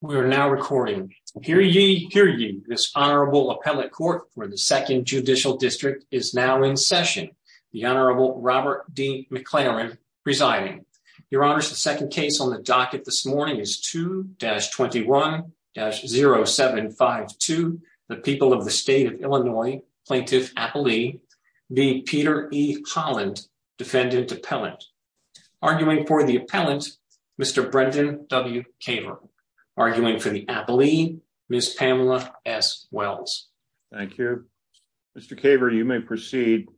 We are now recording. Hear ye, hear ye, this Honorable Appellate Court for the Second Judicial District is now in session. The Honorable Robert D. McLaren presiding. Your Honors, the second case on the docket this morning is 2-21-0752, the People of the State of Illinois, Plaintiff Appellee v. Peter E. Holland, Defendant Appellant. Arguing for the appellant, Mr. Brendan W. Kaver. Arguing for the appellee, Ms. Pamela S. Wells. Thank you. Mr. Kaver, you may proceed.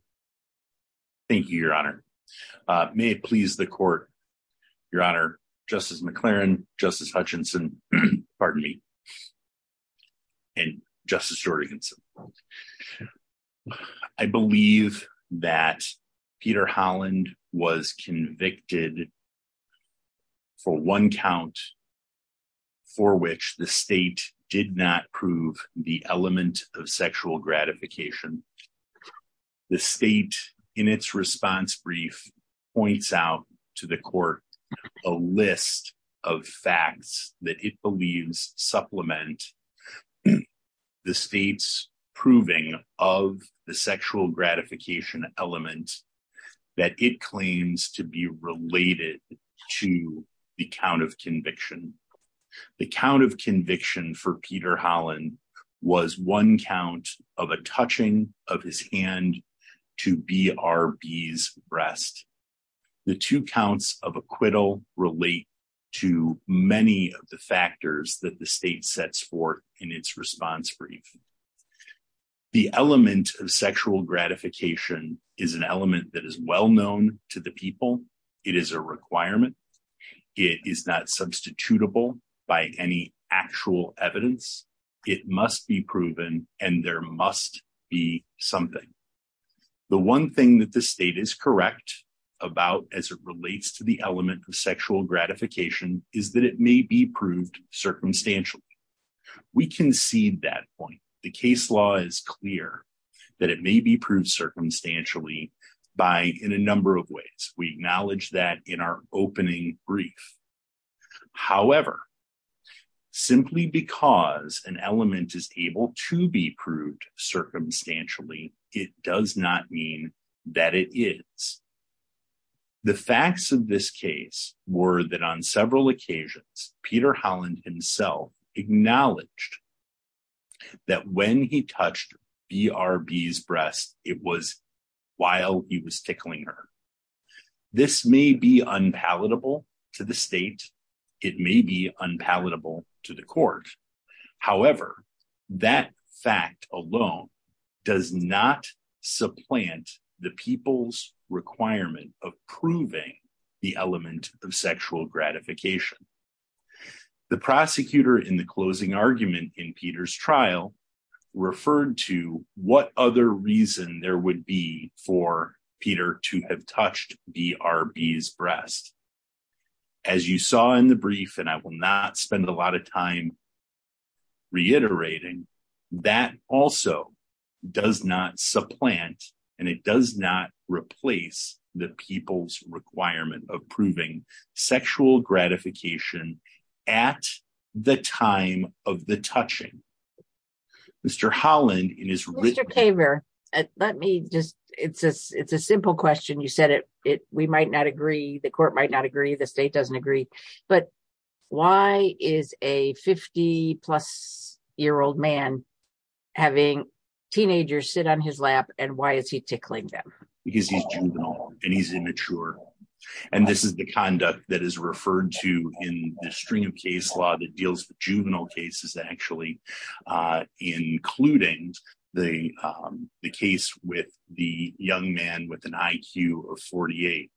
Thank you, Your Honor. May it please the Court, Your Honor, Justice McLaren, Justice Hutchinson, pardon me, and Justice Jordansen. I believe that Peter Holland was convicted for one count for which the state did not prove the element of sexual gratification. The state, in its response brief, points out to the Court a list of facts that it believes supplement the state's proving of the sexual gratification element that it claims to be related to the count of conviction. The count of conviction for Peter Holland was one count of a touching of his hand to B.R.B.'s breast. The two counts of acquittal relate to many of the factors that the state sets forth in its response brief. The element of sexual gratification is an element that is well known to the people. It is a requirement. It is not substitutable by any actual evidence. It must be proven and there must be something. The one thing that the state is correct about as it relates to the element of sexual gratification is that it may be proved circumstantially. We concede that point. The case law is clear that it may be proved circumstantially in a number of ways. We acknowledge that in our opening brief. However, simply because an element is able to be proved circumstantially, it does not mean that it is. The facts of this case were that on several occasions Peter Holland himself acknowledged that when he touched B.R.B.'s breast, it was while he was tickling her. This may be unpalatable to the state. It may be unpalatable to the court. However, that fact alone does not supplant the people's requirement of proving the element of sexual gratification. The prosecutor in the closing argument in Peter's trial referred to what other reason there would be for Peter to have touched B.R.B.'s breast. As you saw in the brief, and I will not spend a lot of time reiterating, that also does not supplant and it does not replace the people's requirement of proving sexual gratification at the time of the touching. Mr. Holland in his written- It's a simple question. You said we might not agree, the court might not agree, the state doesn't agree, but why is a 50 plus year old man having teenagers sit on his lap and why is he tickling them? Because he's juvenile and he's immature. This is the conduct that is referred to in the string of case law that deals with juvenile cases, actually, including the case with the young man with an IQ of 48.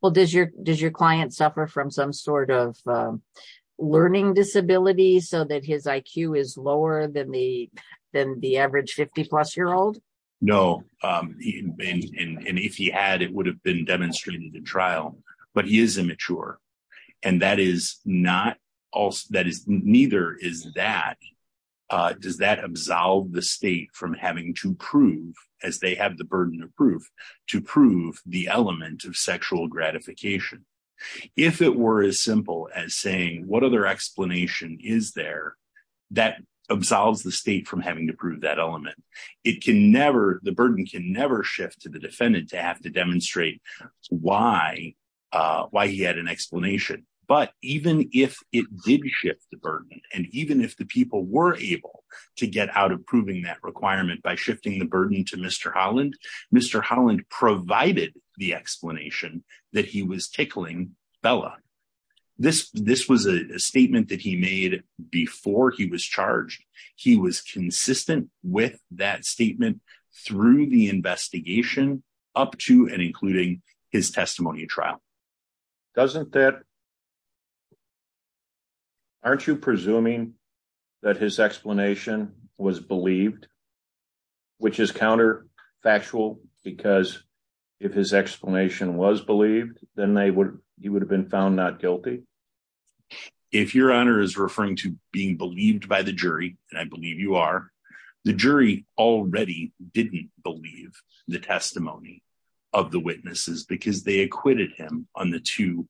Well, does your client suffer from some sort of learning disability so that his IQ is lower than the average 50 plus year old? No, and if he had, it would have been demonstrated in trial, but he is immature and that is not, neither is that, does that absolve the state from having to prove, as they have the burden of proof, to prove the element of sexual gratification. If it were as simple as saying what other explanation is there, that absolves the state from having to prove that element. It can never, the burden can never shift to the defendant to have to demonstrate why he had an explanation, but even if it did shift the burden and even if the people were able to get out of proving that requirement by shifting the burden to Mr. Holland, Mr. Holland provided the explanation that he was tickling Bella. This was a statement that he made before he was charged. He was consistent with that statement through the investigation up to and including his testimony trial. Doesn't that, aren't you presuming that his explanation was believed, which is counterfactual because if his explanation was believed, then they would, he would have been found not guilty? If your honor is referring to being believed by the jury, and I believe you are, the jury already didn't believe the testimony of the witnesses because they acquitted him on the two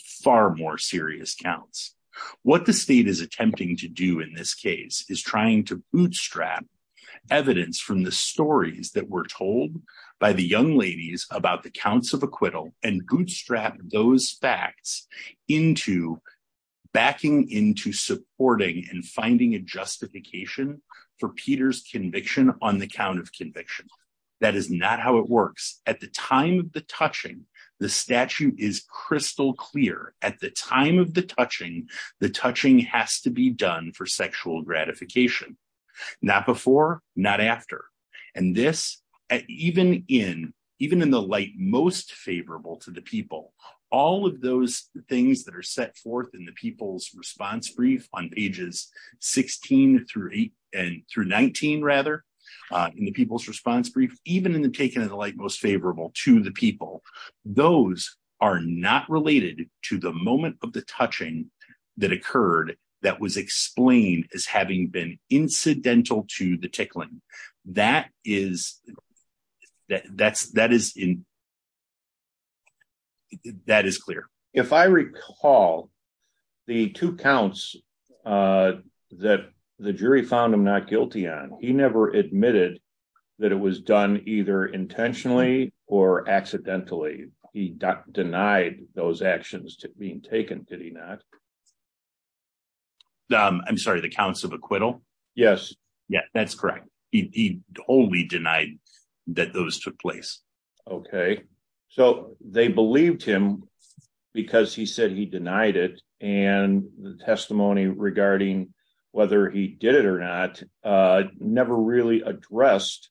far more serious counts. What the state is attempting to do in this case is trying to bootstrap evidence from the stories that were told by the young ladies about the counts of acquittal and bootstrap those facts into backing into supporting and finding a justification for Peter's conviction on the count of conviction. That is not how it works. At the time of the touching, the statute is crystal clear. At the time of the touching, the touching has to be done for sexual gratification, not before, not after. And this, even in, even in the light most favorable to the people, all of those things that are set forth in the people's response brief on pages 16 through eight and through 19 rather, in the people's response brief, even in the taking of the light most favorable to the people, those are not related to the moment of the touching that occurred, that was explained as having been incidental to the tickling. That is, that's, that is in, that is clear. If I recall the two counts that the jury found him not guilty on, he never admitted that it was done either intentionally or accidentally. He denied those actions being taken, did he not? I'm sorry, the counts of acquittal? Yes. Yeah, that's correct. He only denied that those took place. Okay. So they believed him because he said he denied it and the testimony regarding whether he did it or not never really addressed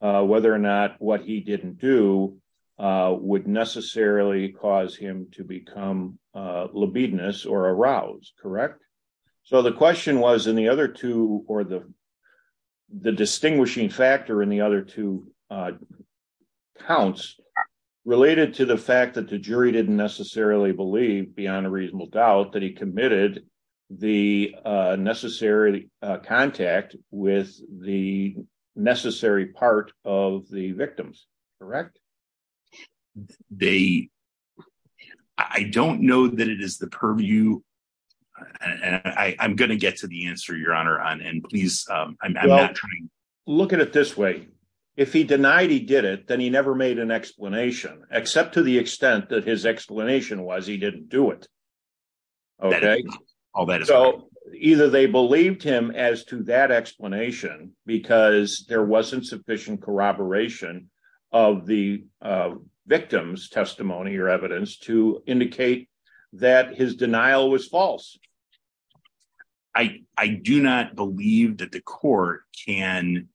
whether or not what he didn't do would necessarily cause him to become libidinous or arouse, correct? So the question was in the other two or the distinguishing factor in the other two counts related to the fact that the jury didn't necessarily believe beyond a reasonable doubt that he committed the necessary contact with the necessary part of the victims, correct? They, I don't know that it is the purview and I'm going to get to the answer, your honor, and please, I'm not trying. Well, look at it this way. If he denied he did it, then he never made an explanation except to the extent that his explanation was he didn't do it. Okay. So either they believed him as to that explanation because there wasn't sufficient corroboration of the victim's testimony or evidence to indicate that his denial was false. I do not believe that the court can,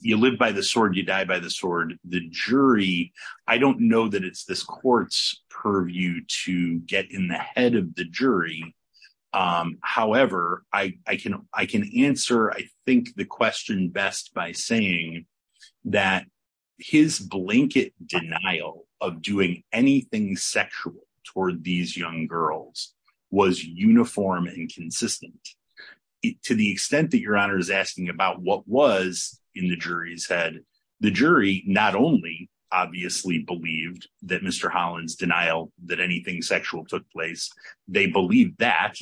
you live by the sword, you die by the sword. The jury, I don't know that it's this court's purview to get in the head of the jury. However, I can answer I think the question best by saying that his blanket denial of doing anything sexual toward these young girls was uniform and consistent to the extent that your honor is asking about what was in the jury's head. The jury not only obviously believed that Mr. Holland's denial that anything sexual took place, they believed that,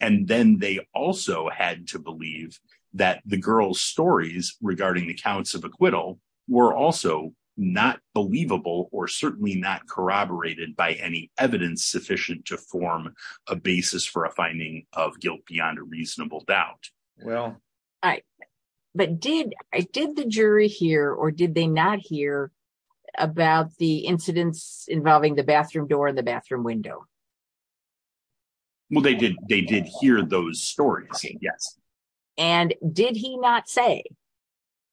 and then they also had to believe that the girl's stories regarding the counts of acquittal were also not believable or certainly not corroborated by any evidence sufficient to form a basis for a finding of guilt beyond a reasonable doubt. Well, all right, but did the jury hear or did they not hear about the incidents involving the bathroom door and the bathroom window? Well, they did hear those stories, yes. And did he not say,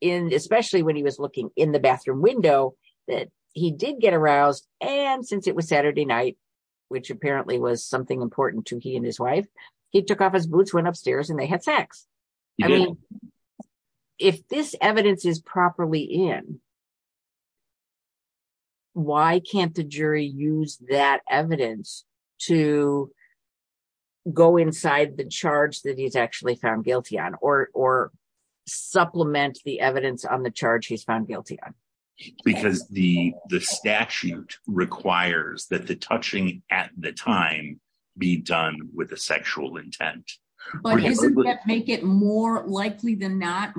especially when he was looking in the bathroom window, that he did get aroused and since it was Saturday night, which apparently was something important to he and his wife, he took off his boots, went upstairs, and they had sex. If this evidence is properly in, why can't the jury use that evidence to go inside the charge that he's actually found guilty on or supplement the evidence on the charge he's found guilty on? Because the statute requires that the touching at the time be done with a sexual intent. But doesn't that make it more likely than not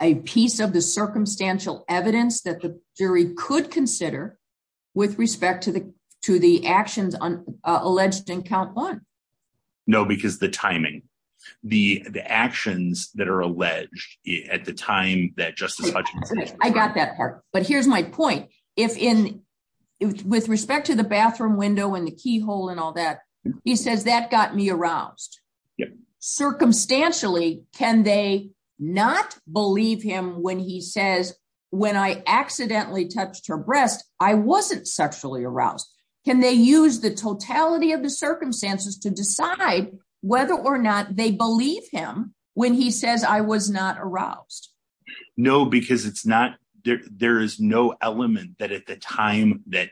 a piece of the circumstantial evidence that the jury could consider with respect to the actions alleged in count one? No, because the timing, the actions that are alleged at the time that Justice Hutchinson- I got that part. But here's my point. With respect to the bathroom window and the keyhole and all that, he says that got me aroused. Circumstantially, can they not believe him when he says, when I accidentally touched her breast, I wasn't sexually aroused? Can they use the totality of the circumstances to decide whether or not they believe him when he says I was not aroused? No, because there is no element that at the time that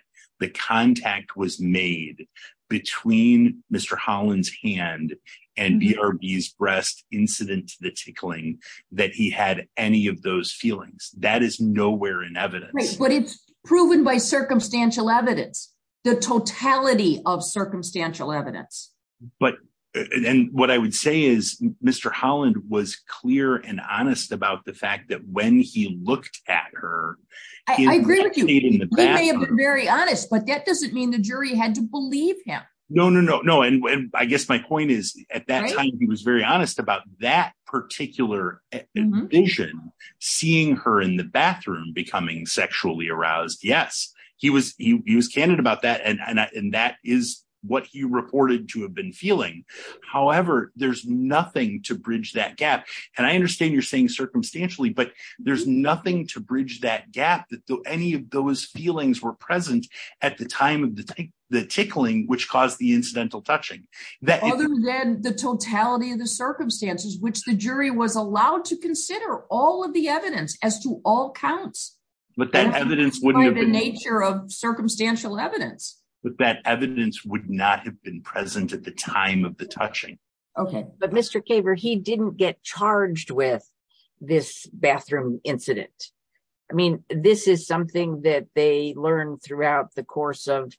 contact was made between Mr. Holland's hand and BRB's breast incident to the tickling that he had any of those feelings. That is nowhere in evidence. But it's proven by circumstantial evidence, the totality of circumstantial evidence. But then what I would say is Mr. Holland was clear and honest about the fact that when he looked at her- I agree with you. He may have been very honest, but that doesn't mean the jury had to believe him. No, no, no, no. And I guess my point is, at that time, he was very honest about that particular vision, seeing her in the bathroom becoming sexually aroused. Yes, he was he was candid about that. And that is what he reported to have been feeling. However, there's nothing to bridge that gap. And I understand you're saying circumstantially, but there's nothing to bridge that gap that any of those feelings were present at the time of the tickling, which caused the incidental touching. Other than the totality of the circumstances, which the jury was allowed to consider all of the evidence as to all counts. But that evidence wouldn't have been- By the nature of circumstantial evidence. But that evidence would not have been present at the time of the touching. Okay, but Mr. Kaver, he didn't get charged with this bathroom incident. I mean, this is something that they learned throughout the course of,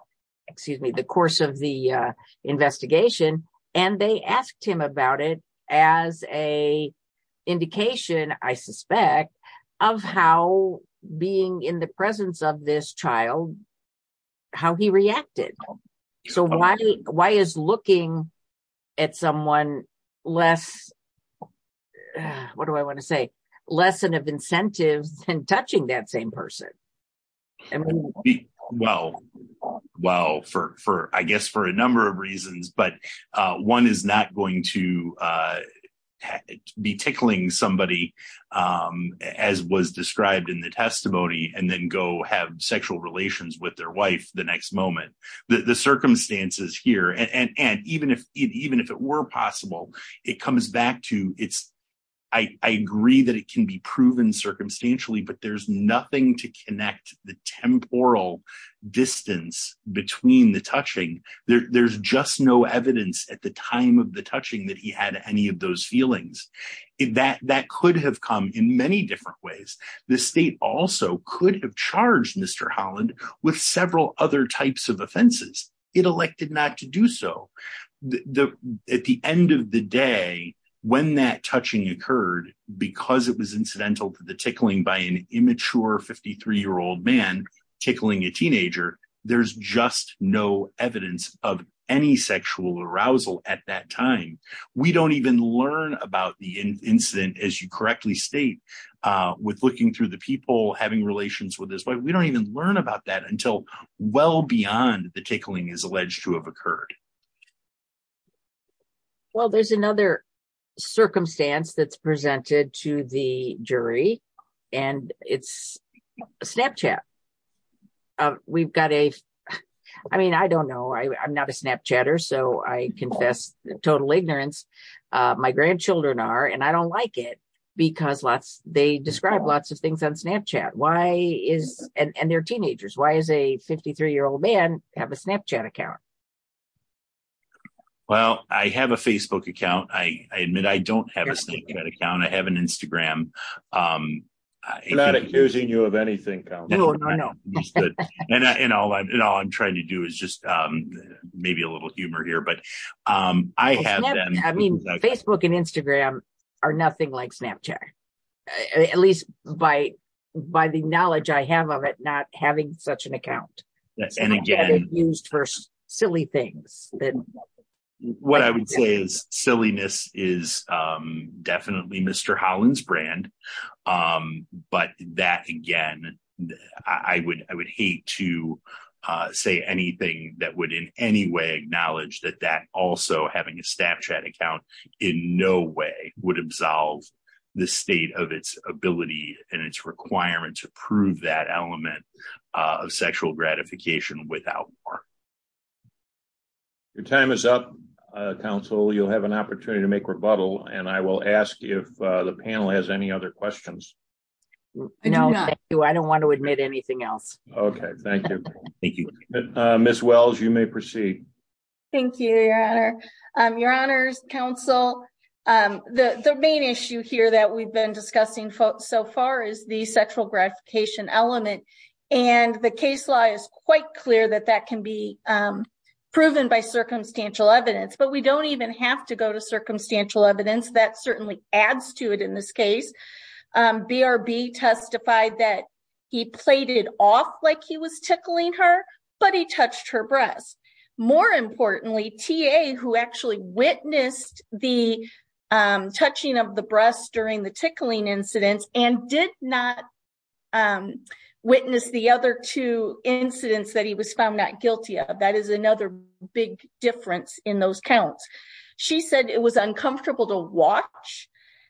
excuse me, the course of the investigation. And they asked him about it as a indication, I suspect, of how being in the presence of this child, how he reacted. So why is looking at someone less, what do I want to say, less of an incentive than touching that same person? Well, I guess for a number of reasons, but one is not going to be tickling somebody as was described in the testimony, and then go have sexual relations with their wife the next moment. The circumstances here, and even if it were possible, it comes back to, I agree that it can be proven circumstantially, but there's nothing to connect the temporal distance between the touching. There's just no evidence at the time of the touching that he had any of those feelings. That could have come in many different ways. The state also could have charged Mr. Holland with several other types of offenses. It elected not to do so. At the end of the day, when that touching occurred, because it was incidental to the tickling by an immature 53-year-old man tickling a teenager, there's just no evidence of any sexual arousal at that time. We don't even learn about the incident, as you correctly state, with looking through the people having relations with his wife. We don't even learn about that until well beyond the tickling is alleged to have occurred. Well, there's another circumstance that's presented to the jury, and it's Snapchat. I don't know. I'm not a Snapchatter, so I confess total ignorance. My grandchildren are, and I don't like it because they describe lots of things on Snapchat, and they're teenagers. Why does a 53-year-old man have a Snapchat account? Well, I have a Facebook account. I admit I don't have a Snapchat account. I have an Instagram. I'm not accusing you of anything, Count. No, no, no. And all I'm trying to do is just maybe a little humor here. Well, Facebook and Instagram are nothing like Snapchat, at least by the knowledge I have of it not having such an account. Snapchat is used for silly things. What I would say is silliness is definitely Mr. Holland's brand, but that, again, I would hate to say anything that would in any way acknowledge that that also having a Snapchat account in no way would absolve the state of its ability and its requirement to prove that element of sexual gratification without war. Your time is up, Counsel. You'll have an opportunity to make rebuttal, and I will ask if the panel has any other questions. No, thank you. I don't want to admit anything else. Okay, thank you. Thank you. Ms. Wells, you may proceed. Thank you, Your Honor. Your Honors, Counsel, the main issue here that we've been discussing so far is the sexual gratification element, and the case law is quite clear that that can be proven by circumstantial evidence, but we don't even have to go to circumstantial evidence. That certainly adds to it in this case. BRB testified that he played it off like he was tickling her, but he touched her breast. More importantly, TA, who actually witnessed the touching of the breast during the tickling incidents and did not witness the other two incidents that he was found not guilty of, that is another big difference in those counts. She said it was uncomfortable to watch,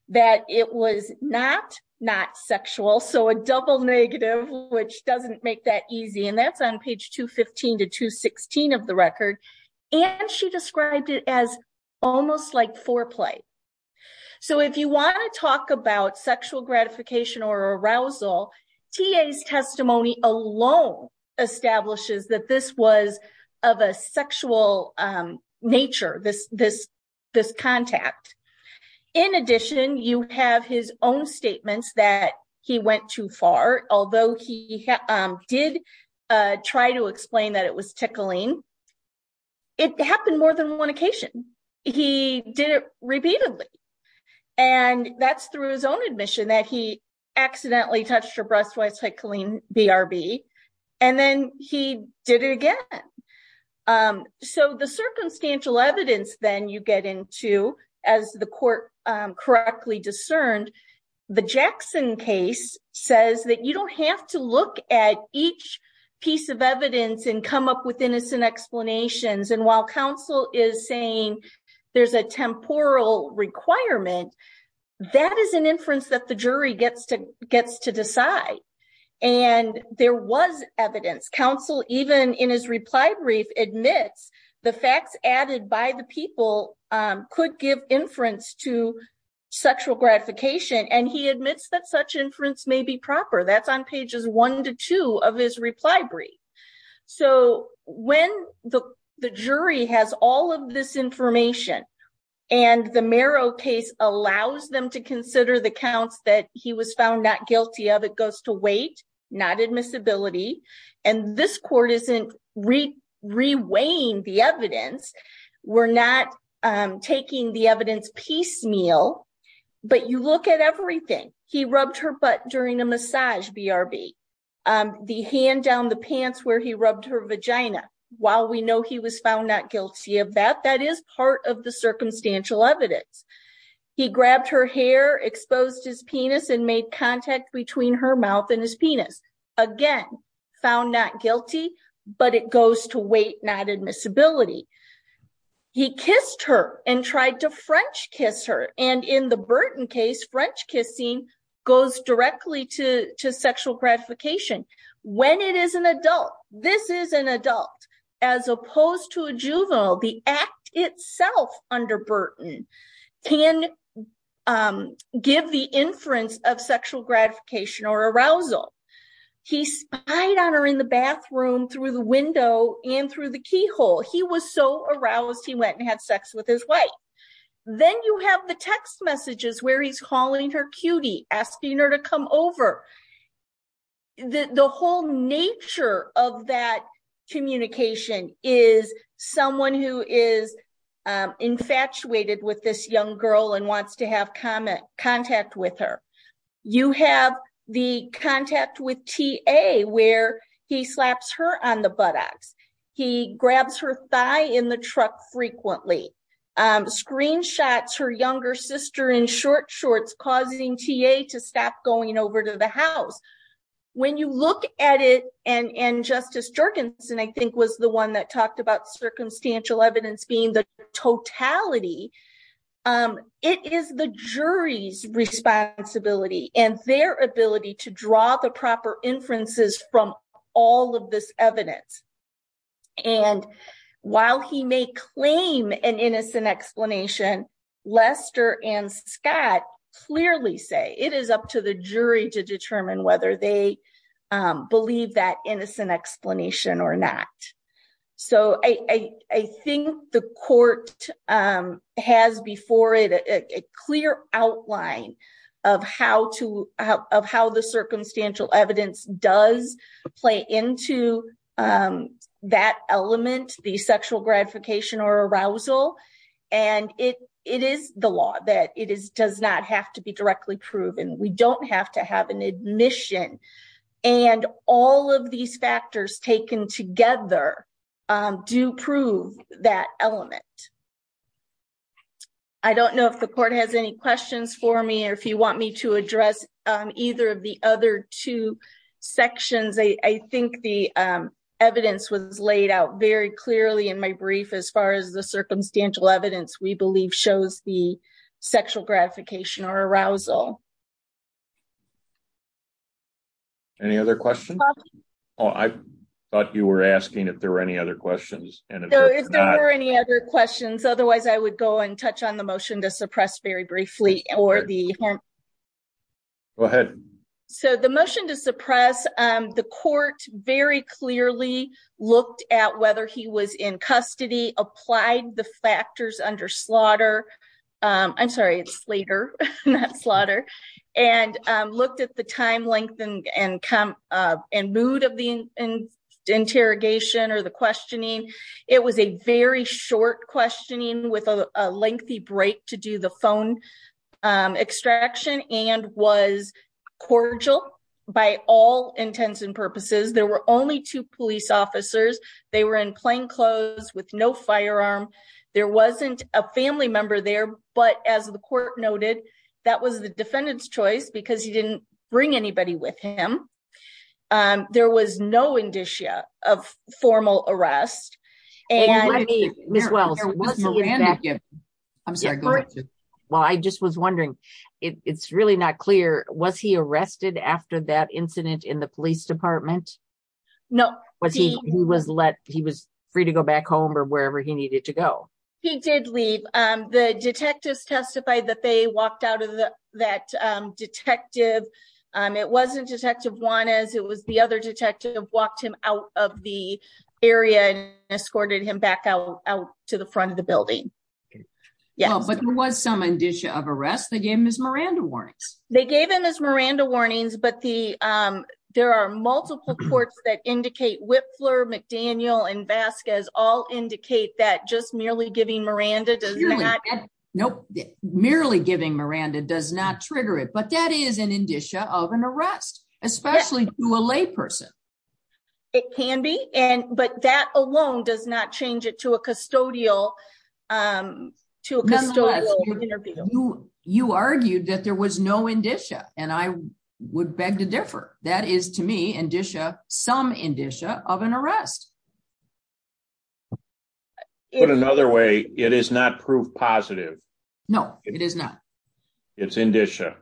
that it was not not sexual, so a double negative, which doesn't make that easy, and that's on page 215 to 216 of the record, and she described it as almost like foreplay. So if you want to talk about sexual gratification or arousal, TA's testimony alone establishes that this was of a sexual nature, this contact. In addition, you have his own statements that he went too far. Although he did try to explain that it was tickling, it happened more than one occasion. He did it repeatedly, and that's through his own admission that he accidentally touched her breast while tickling BRB, and then he did it again. So the circumstantial evidence then you get into, as the court correctly discerned, the Jackson case says that you don't have to look at each piece of evidence and come up with innocent explanations, and while counsel is saying there's a temporal requirement, that is an inference that the jury gets to decide, and there was evidence. Counsel, even in his reply brief, admits the facts added by the people could give inference to sexual gratification, and he admits that such inference may be proper. That's on pages one to consider the counts that he was found not guilty of. It goes to weight, not admissibility, and this court isn't re-weighing the evidence. We're not taking the evidence piecemeal, but you look at everything. He rubbed her butt during a massage BRB, the hand down the pants where he rubbed her vagina. While we know he was found not guilty of that, that is part of circumstantial evidence. He grabbed her hair, exposed his penis, and made contact between her mouth and his penis. Again, found not guilty, but it goes to weight, not admissibility. He kissed her and tried to French kiss her, and in the Burton case, French kissing goes directly to sexual gratification. When it is an adult, this is an adult, as opposed to a juvenile, the act itself under Burton can give the inference of sexual gratification or arousal. He spied on her in the bathroom through the window and through the keyhole. He was so aroused, he went and had sex with his wife. Then you have the text messages where he's calling her cutie, asking her to come over. The whole nature of that communication is someone who is infatuated with this young girl and wants to have contact with her. You have the contact with TA where he slaps her on the buttocks. He grabs her thigh in the truck frequently, screenshots her younger sister in short shorts, causing TA to stop going over to the house. When you look at it, and Justice Jorgensen, I think, was the one that talked about circumstantial evidence being the totality. It is the jury's responsibility and their ability to draw the proper inferences from all of this evidence. While he may claim an innocent explanation, Lester and Scott clearly say it is up to the jury to determine whether they believe that innocent explanation or not. I think the court has before it a clear outline of how the circumstantial evidence does play into that element, the sexual gratification or arousal. It is the law that it does not have to be directly proven. We don't have to have an admission. All of these factors taken together do prove that element. I don't know if the court has any questions for me or if you want me to address either of the other two sections. I think the evidence was laid out very clearly in my brief as far as the circumstantial evidence we believe shows the sexual gratification or arousal. Any other questions? I thought you were asking if there were any other questions. If there were any other questions, otherwise I would go and touch on the motion to suppress very briefly. The motion to suppress, the court very clearly looked at whether he was in custody, applied the factors under slaughter. I'm sorry, it's later, not slaughter. And looked at the time length and mood of the interrogation or the questioning. It was a very short questioning with a lengthy break to do the phone extraction and was cordial by all intents and purposes. There were only two police officers. They were in plain clothes with no firearm. There wasn't a family member there, but as the court noted, that was the defendant's choice because he didn't bring anybody with him. There was no indicia of formal arrest. I just was wondering, it's really not clear, was he arrested after that incident in the police needed to go? He did leave. The detectives testified that they walked out of that detective. It wasn't detective Juanez. It was the other detective walked him out of the area and escorted him back out to the front of the building. But there was some indicia of arrest. They gave him his Miranda warnings. They gave him his Miranda warnings, but there are multiple reports that indicate Whitfler, McDaniel, and Vasquez all indicate that just merely giving Miranda does not trigger it. But that is an indicia of an arrest, especially to a layperson. It can be, but that alone does not change it to a custodial interview. You argued that there was no indicia, and I would beg to differ. That is to me some indicia of an arrest. Put another way, it is not proof positive. No, it is not. It's indicia.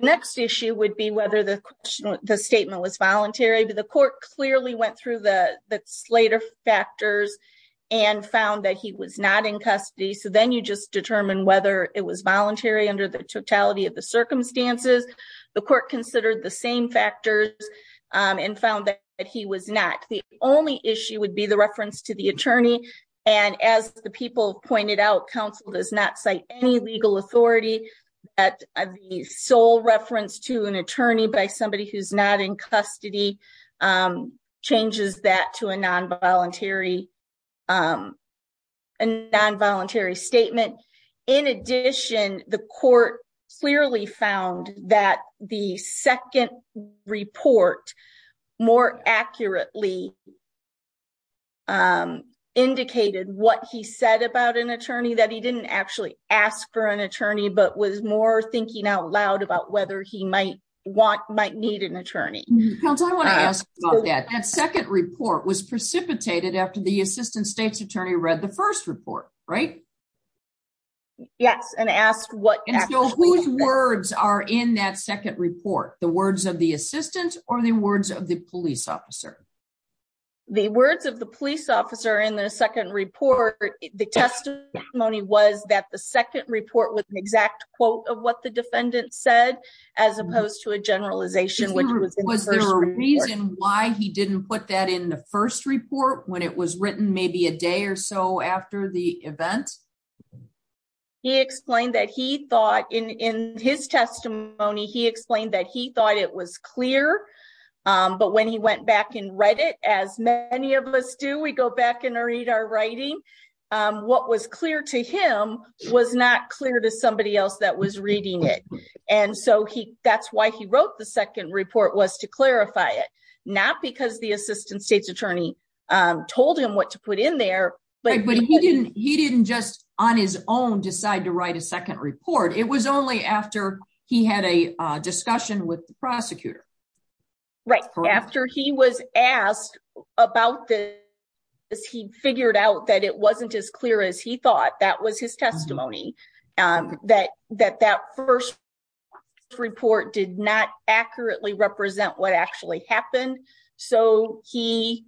Next issue would be whether the statement was voluntary. The court clearly went through the custody, so then you just determine whether it was voluntary under the totality of the circumstances. The court considered the same factors and found that he was not. The only issue would be the reference to the attorney. As the people pointed out, counsel does not cite any legal authority. The sole reference to an attorney by somebody who is not in custody changes that to a non-voluntary statement. In addition, the court clearly found that the second report more accurately indicated what he said about an attorney, that he did not actually ask for an attorney, but was more thinking out loud about whether he might need an attorney. Counsel, I want to ask about that. That second report was precipitated after the assistant state's attorney read the first report, right? Yes, and asked what... And so whose words are in that second report? The words of the assistant, or the words of the police officer? The words of the police officer in the second report, the testimony was that the second report was an exact quote of what the defendant said, as opposed to a generalization. Was there a reason why he didn't put that in the first report when it was written maybe a day or so after the event? He explained that he thought in his testimony, he explained that he thought it was clear, but when he went back and read it, as many of us do, we go back and read our writing. What was clear to him was not clear to somebody else that was that's why he wrote the second report was to clarify it, not because the assistant state's attorney told him what to put in there. But he didn't just on his own decide to write a second report. It was only after he had a discussion with the prosecutor. Right, after he was asked about this, he figured out that it wasn't as clear as he thought, that was his testimony, that that first report did not accurately represent what actually happened. So he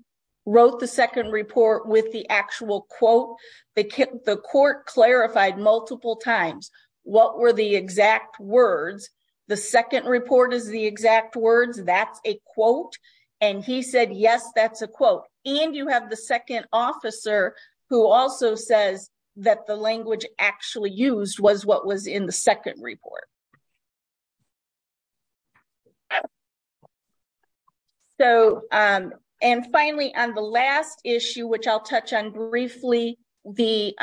wrote the second report with the actual quote, the court clarified multiple times, what were the exact words, the second report is the exact words, that's a quote. And he said, yes, that's a quote. And you have the second officer who also says that the language actually used was what was in the second report. So, and finally, on the last issue, which I'll touch on briefly, the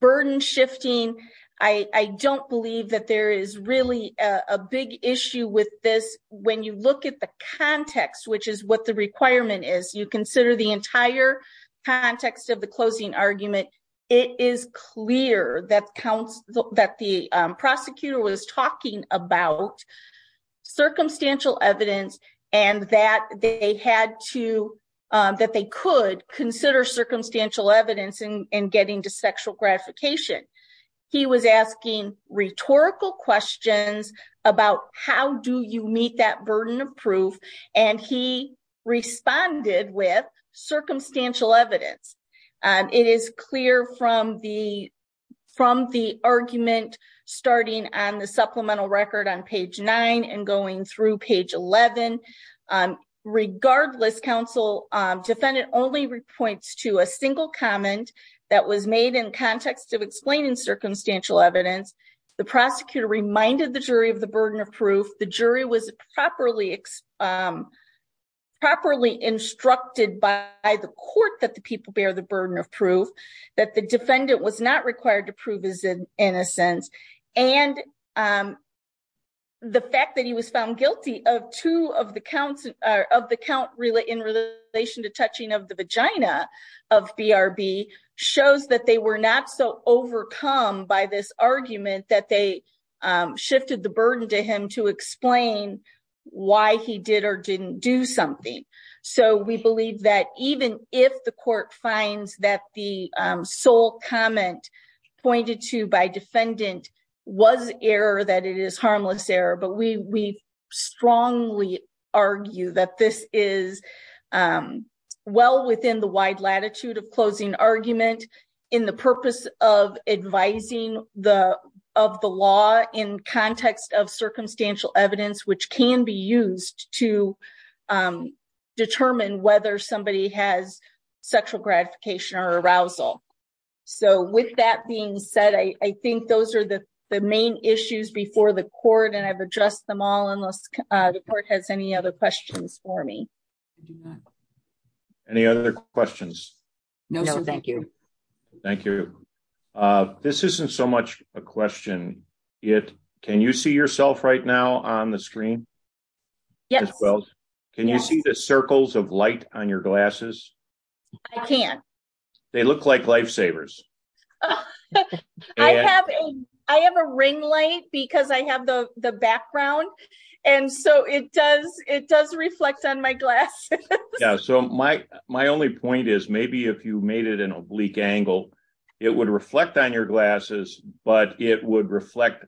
burden shifting, I don't believe that there is really a big issue with this. When you look at the context, which is what the requirement is, you consider the entire context of the closing argument, it is clear that counts that the prosecutor was talking about circumstantial evidence, and that they had to, that they could consider circumstantial evidence and getting to sexual gratification. He was asking rhetorical questions about how do you meet that burden of proof, and he responded with circumstantial evidence. It is clear from the argument starting on the supplemental record on page nine and going through page 11. Regardless, counsel, defendant only points to a single comment that was made in context of explaining circumstantial evidence. The prosecutor reminded the jury of the burden of proof, the jury was properly instructed by the court that the people bear the burden of proof, that the defendant was not required to prove his innocence. And the fact that he was found guilty of two of the counts in relation to touching of the vagina of BRB shows that they were not so clear. We believe that even if the court finds that the sole comment pointed to by defendant was error, that it is harmless error, but we strongly argue that this is well within the wide latitude of closing argument in the purpose of advising of the law in context of circumstantial evidence, which can be used to determine whether somebody has sexual gratification or arousal. So with that being said, I think those are the main issues before the court and I've addressed them all unless the court has any other questions for me. Any other questions? No, thank you. Thank you. This isn't so much a question yet. Can you see yourself right now on the screen? Yes. Can you see the circles of light on your glasses? I can. They look like lifesavers. I have a ring light because I have the background and so it does reflect on my glasses. Yeah, so my only point is maybe if you made it an oblique angle, it would reflect on your glasses, but it would reflect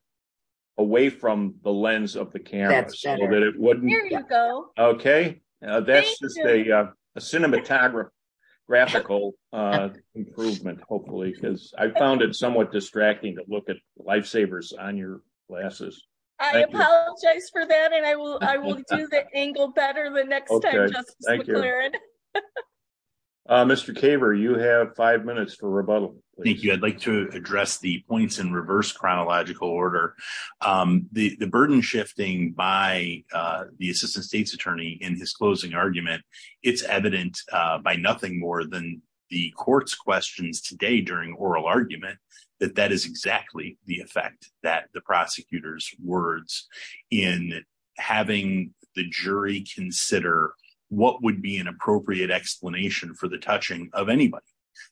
away from the lens of the camera so that it wouldn't. There you go. Okay, that's just a cinematographical improvement hopefully because I found it somewhat distracting to look at lifesavers on your glasses. I apologize for that and I will do the angle better the next time. Mr. Caver, you have five minutes for rebuttal. Thank you. I'd like to address the points in reverse chronological order. The burden shifting by the assistant state's attorney in his closing argument, it's evident by nothing more than the court's questions today during oral argument that that is exactly the effect that the prosecutor's words in having the jury consider what would be an appropriate explanation for the touching of anybody.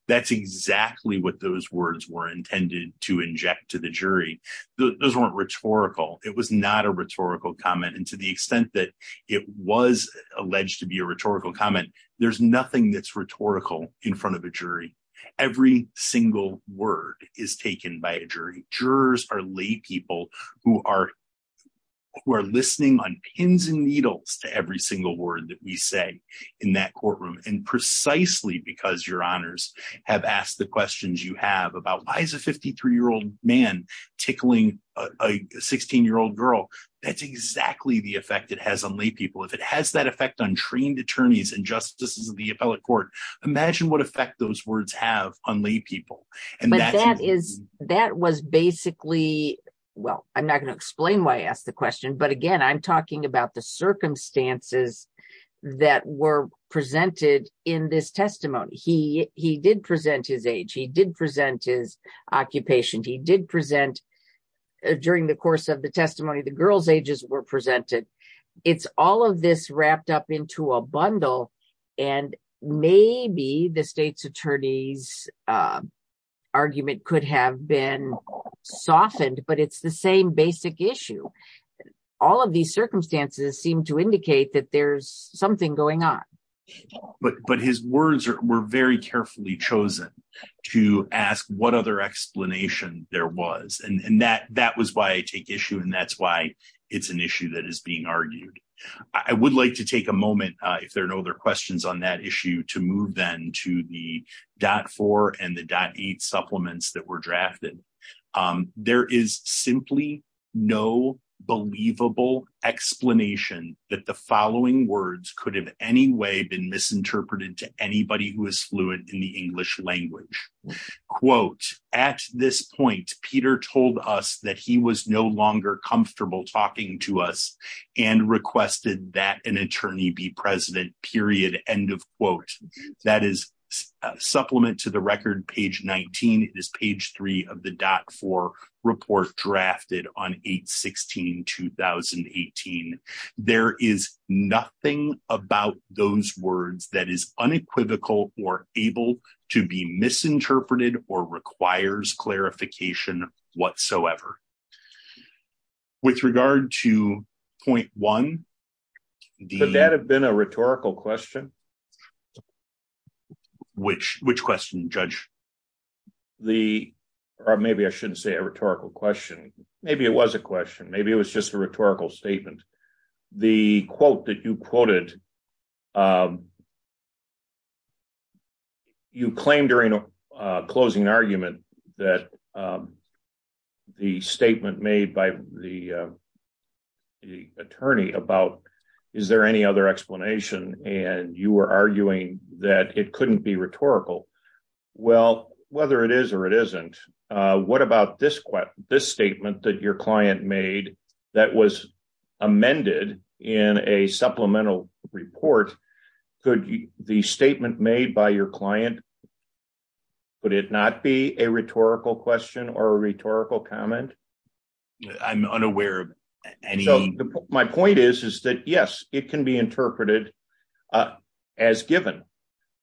That's exactly what those words were intended to inject to the jury. Those weren't rhetorical. It was not a rhetorical comment and to the extent that it was alleged to be a rhetorical comment, there's nothing that's rhetorical in front of a jury. Every single word is taken by a jury. Jurors are lay people who are listening on pins and needles to every single word that we say in that courtroom and precisely because your honors have asked the questions you have about why is a 53-year-old man tickling a 16-year-old girl? That's exactly the effect it has on lay people. If it has that effect on trained attorneys and justices of the appellate court, imagine what effect those words have on lay people. That was basically, well, I'm not going to explain why I asked the question, but again, I'm talking about the circumstances that were presented in this testimony. He did present his age. He did present his occupation. He did present during the course of the testimony, the girl's ages were the same. Maybe the state's attorney's argument could have been softened, but it's the same basic issue. All of these circumstances seem to indicate that there's something going on. But his words were very carefully chosen to ask what other explanation there was and that was why I take issue and that's why it's an issue that is being argued. I would like to take a moment, if there are no other questions on that issue, to move then to the .4 and the .8 supplements that were drafted. There is simply no believable explanation that the following words could have any way been misinterpreted to anybody who is fluent in the English language. Quote, at this point, Peter told us that he was no longer comfortable talking to us and requested that an attorney be present, period, end of quote. That is a supplement to the record, page 19. It is page 3 of the .4 report drafted on 8-16-2018. There is nothing about those words that is unequivocal or able to be misinterpreted or requires clarification whatsoever. With regard to .1, the- Would that have been a rhetorical question? Which question, Judge? The, or maybe I shouldn't say a rhetorical question. Maybe it was a question. Maybe it was just a rhetorical statement. The quote that you quoted, you claimed during a closing argument that the statement made by the attorney about, is there any other explanation? And you were arguing that it couldn't be rhetorical. Well, whether it is or it isn't, what about this statement that your client made that was amended in a supplemental report? Could the statement made by your client, would it not be a rhetorical question or a rhetorical comment? I'm unaware of any- So, my point is, is that yes, it can be interpreted as given.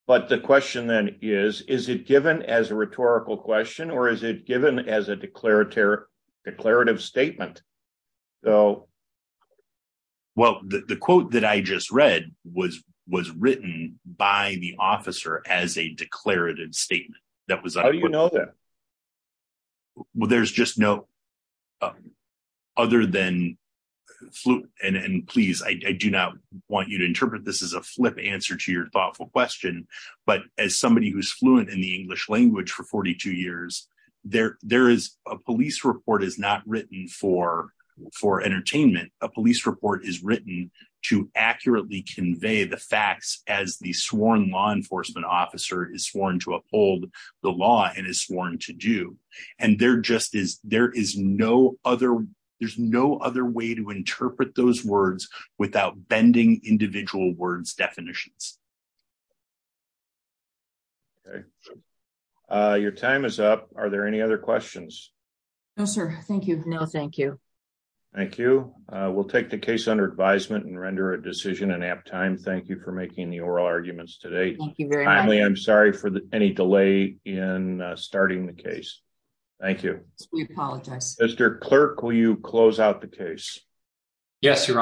But the question then is, is it given as a rhetorical question or is it given as a declarative statement? So- Well, the quote that I just read was written by the officer as a declarative statement. That was- How do you know that? Well, there's just no, other than, and please, I do not want you to interpret this as a flip answer to your thoughtful question, but as somebody who's fluent in the English language for 42 years, there is a police report is not written for entertainment. A police report is written to accurately convey the facts as the sworn law enforcement officer is sworn to uphold the law and is sworn to do. And there just is, there is no other, there's no other way to interpret those words without bending individual words definitions. Okay. Your time is up. Are there any other questions? No, sir. Thank you. No, thank you. Thank you. We'll take the case under advisement and render a decision in apt time. Thank you for making the oral arguments today. Thank you very much. Finally, I'm sorry for any delay in starting the case. Thank you. We apologize. Mr. Clerk, will you close out the case? Yes, Your Honor.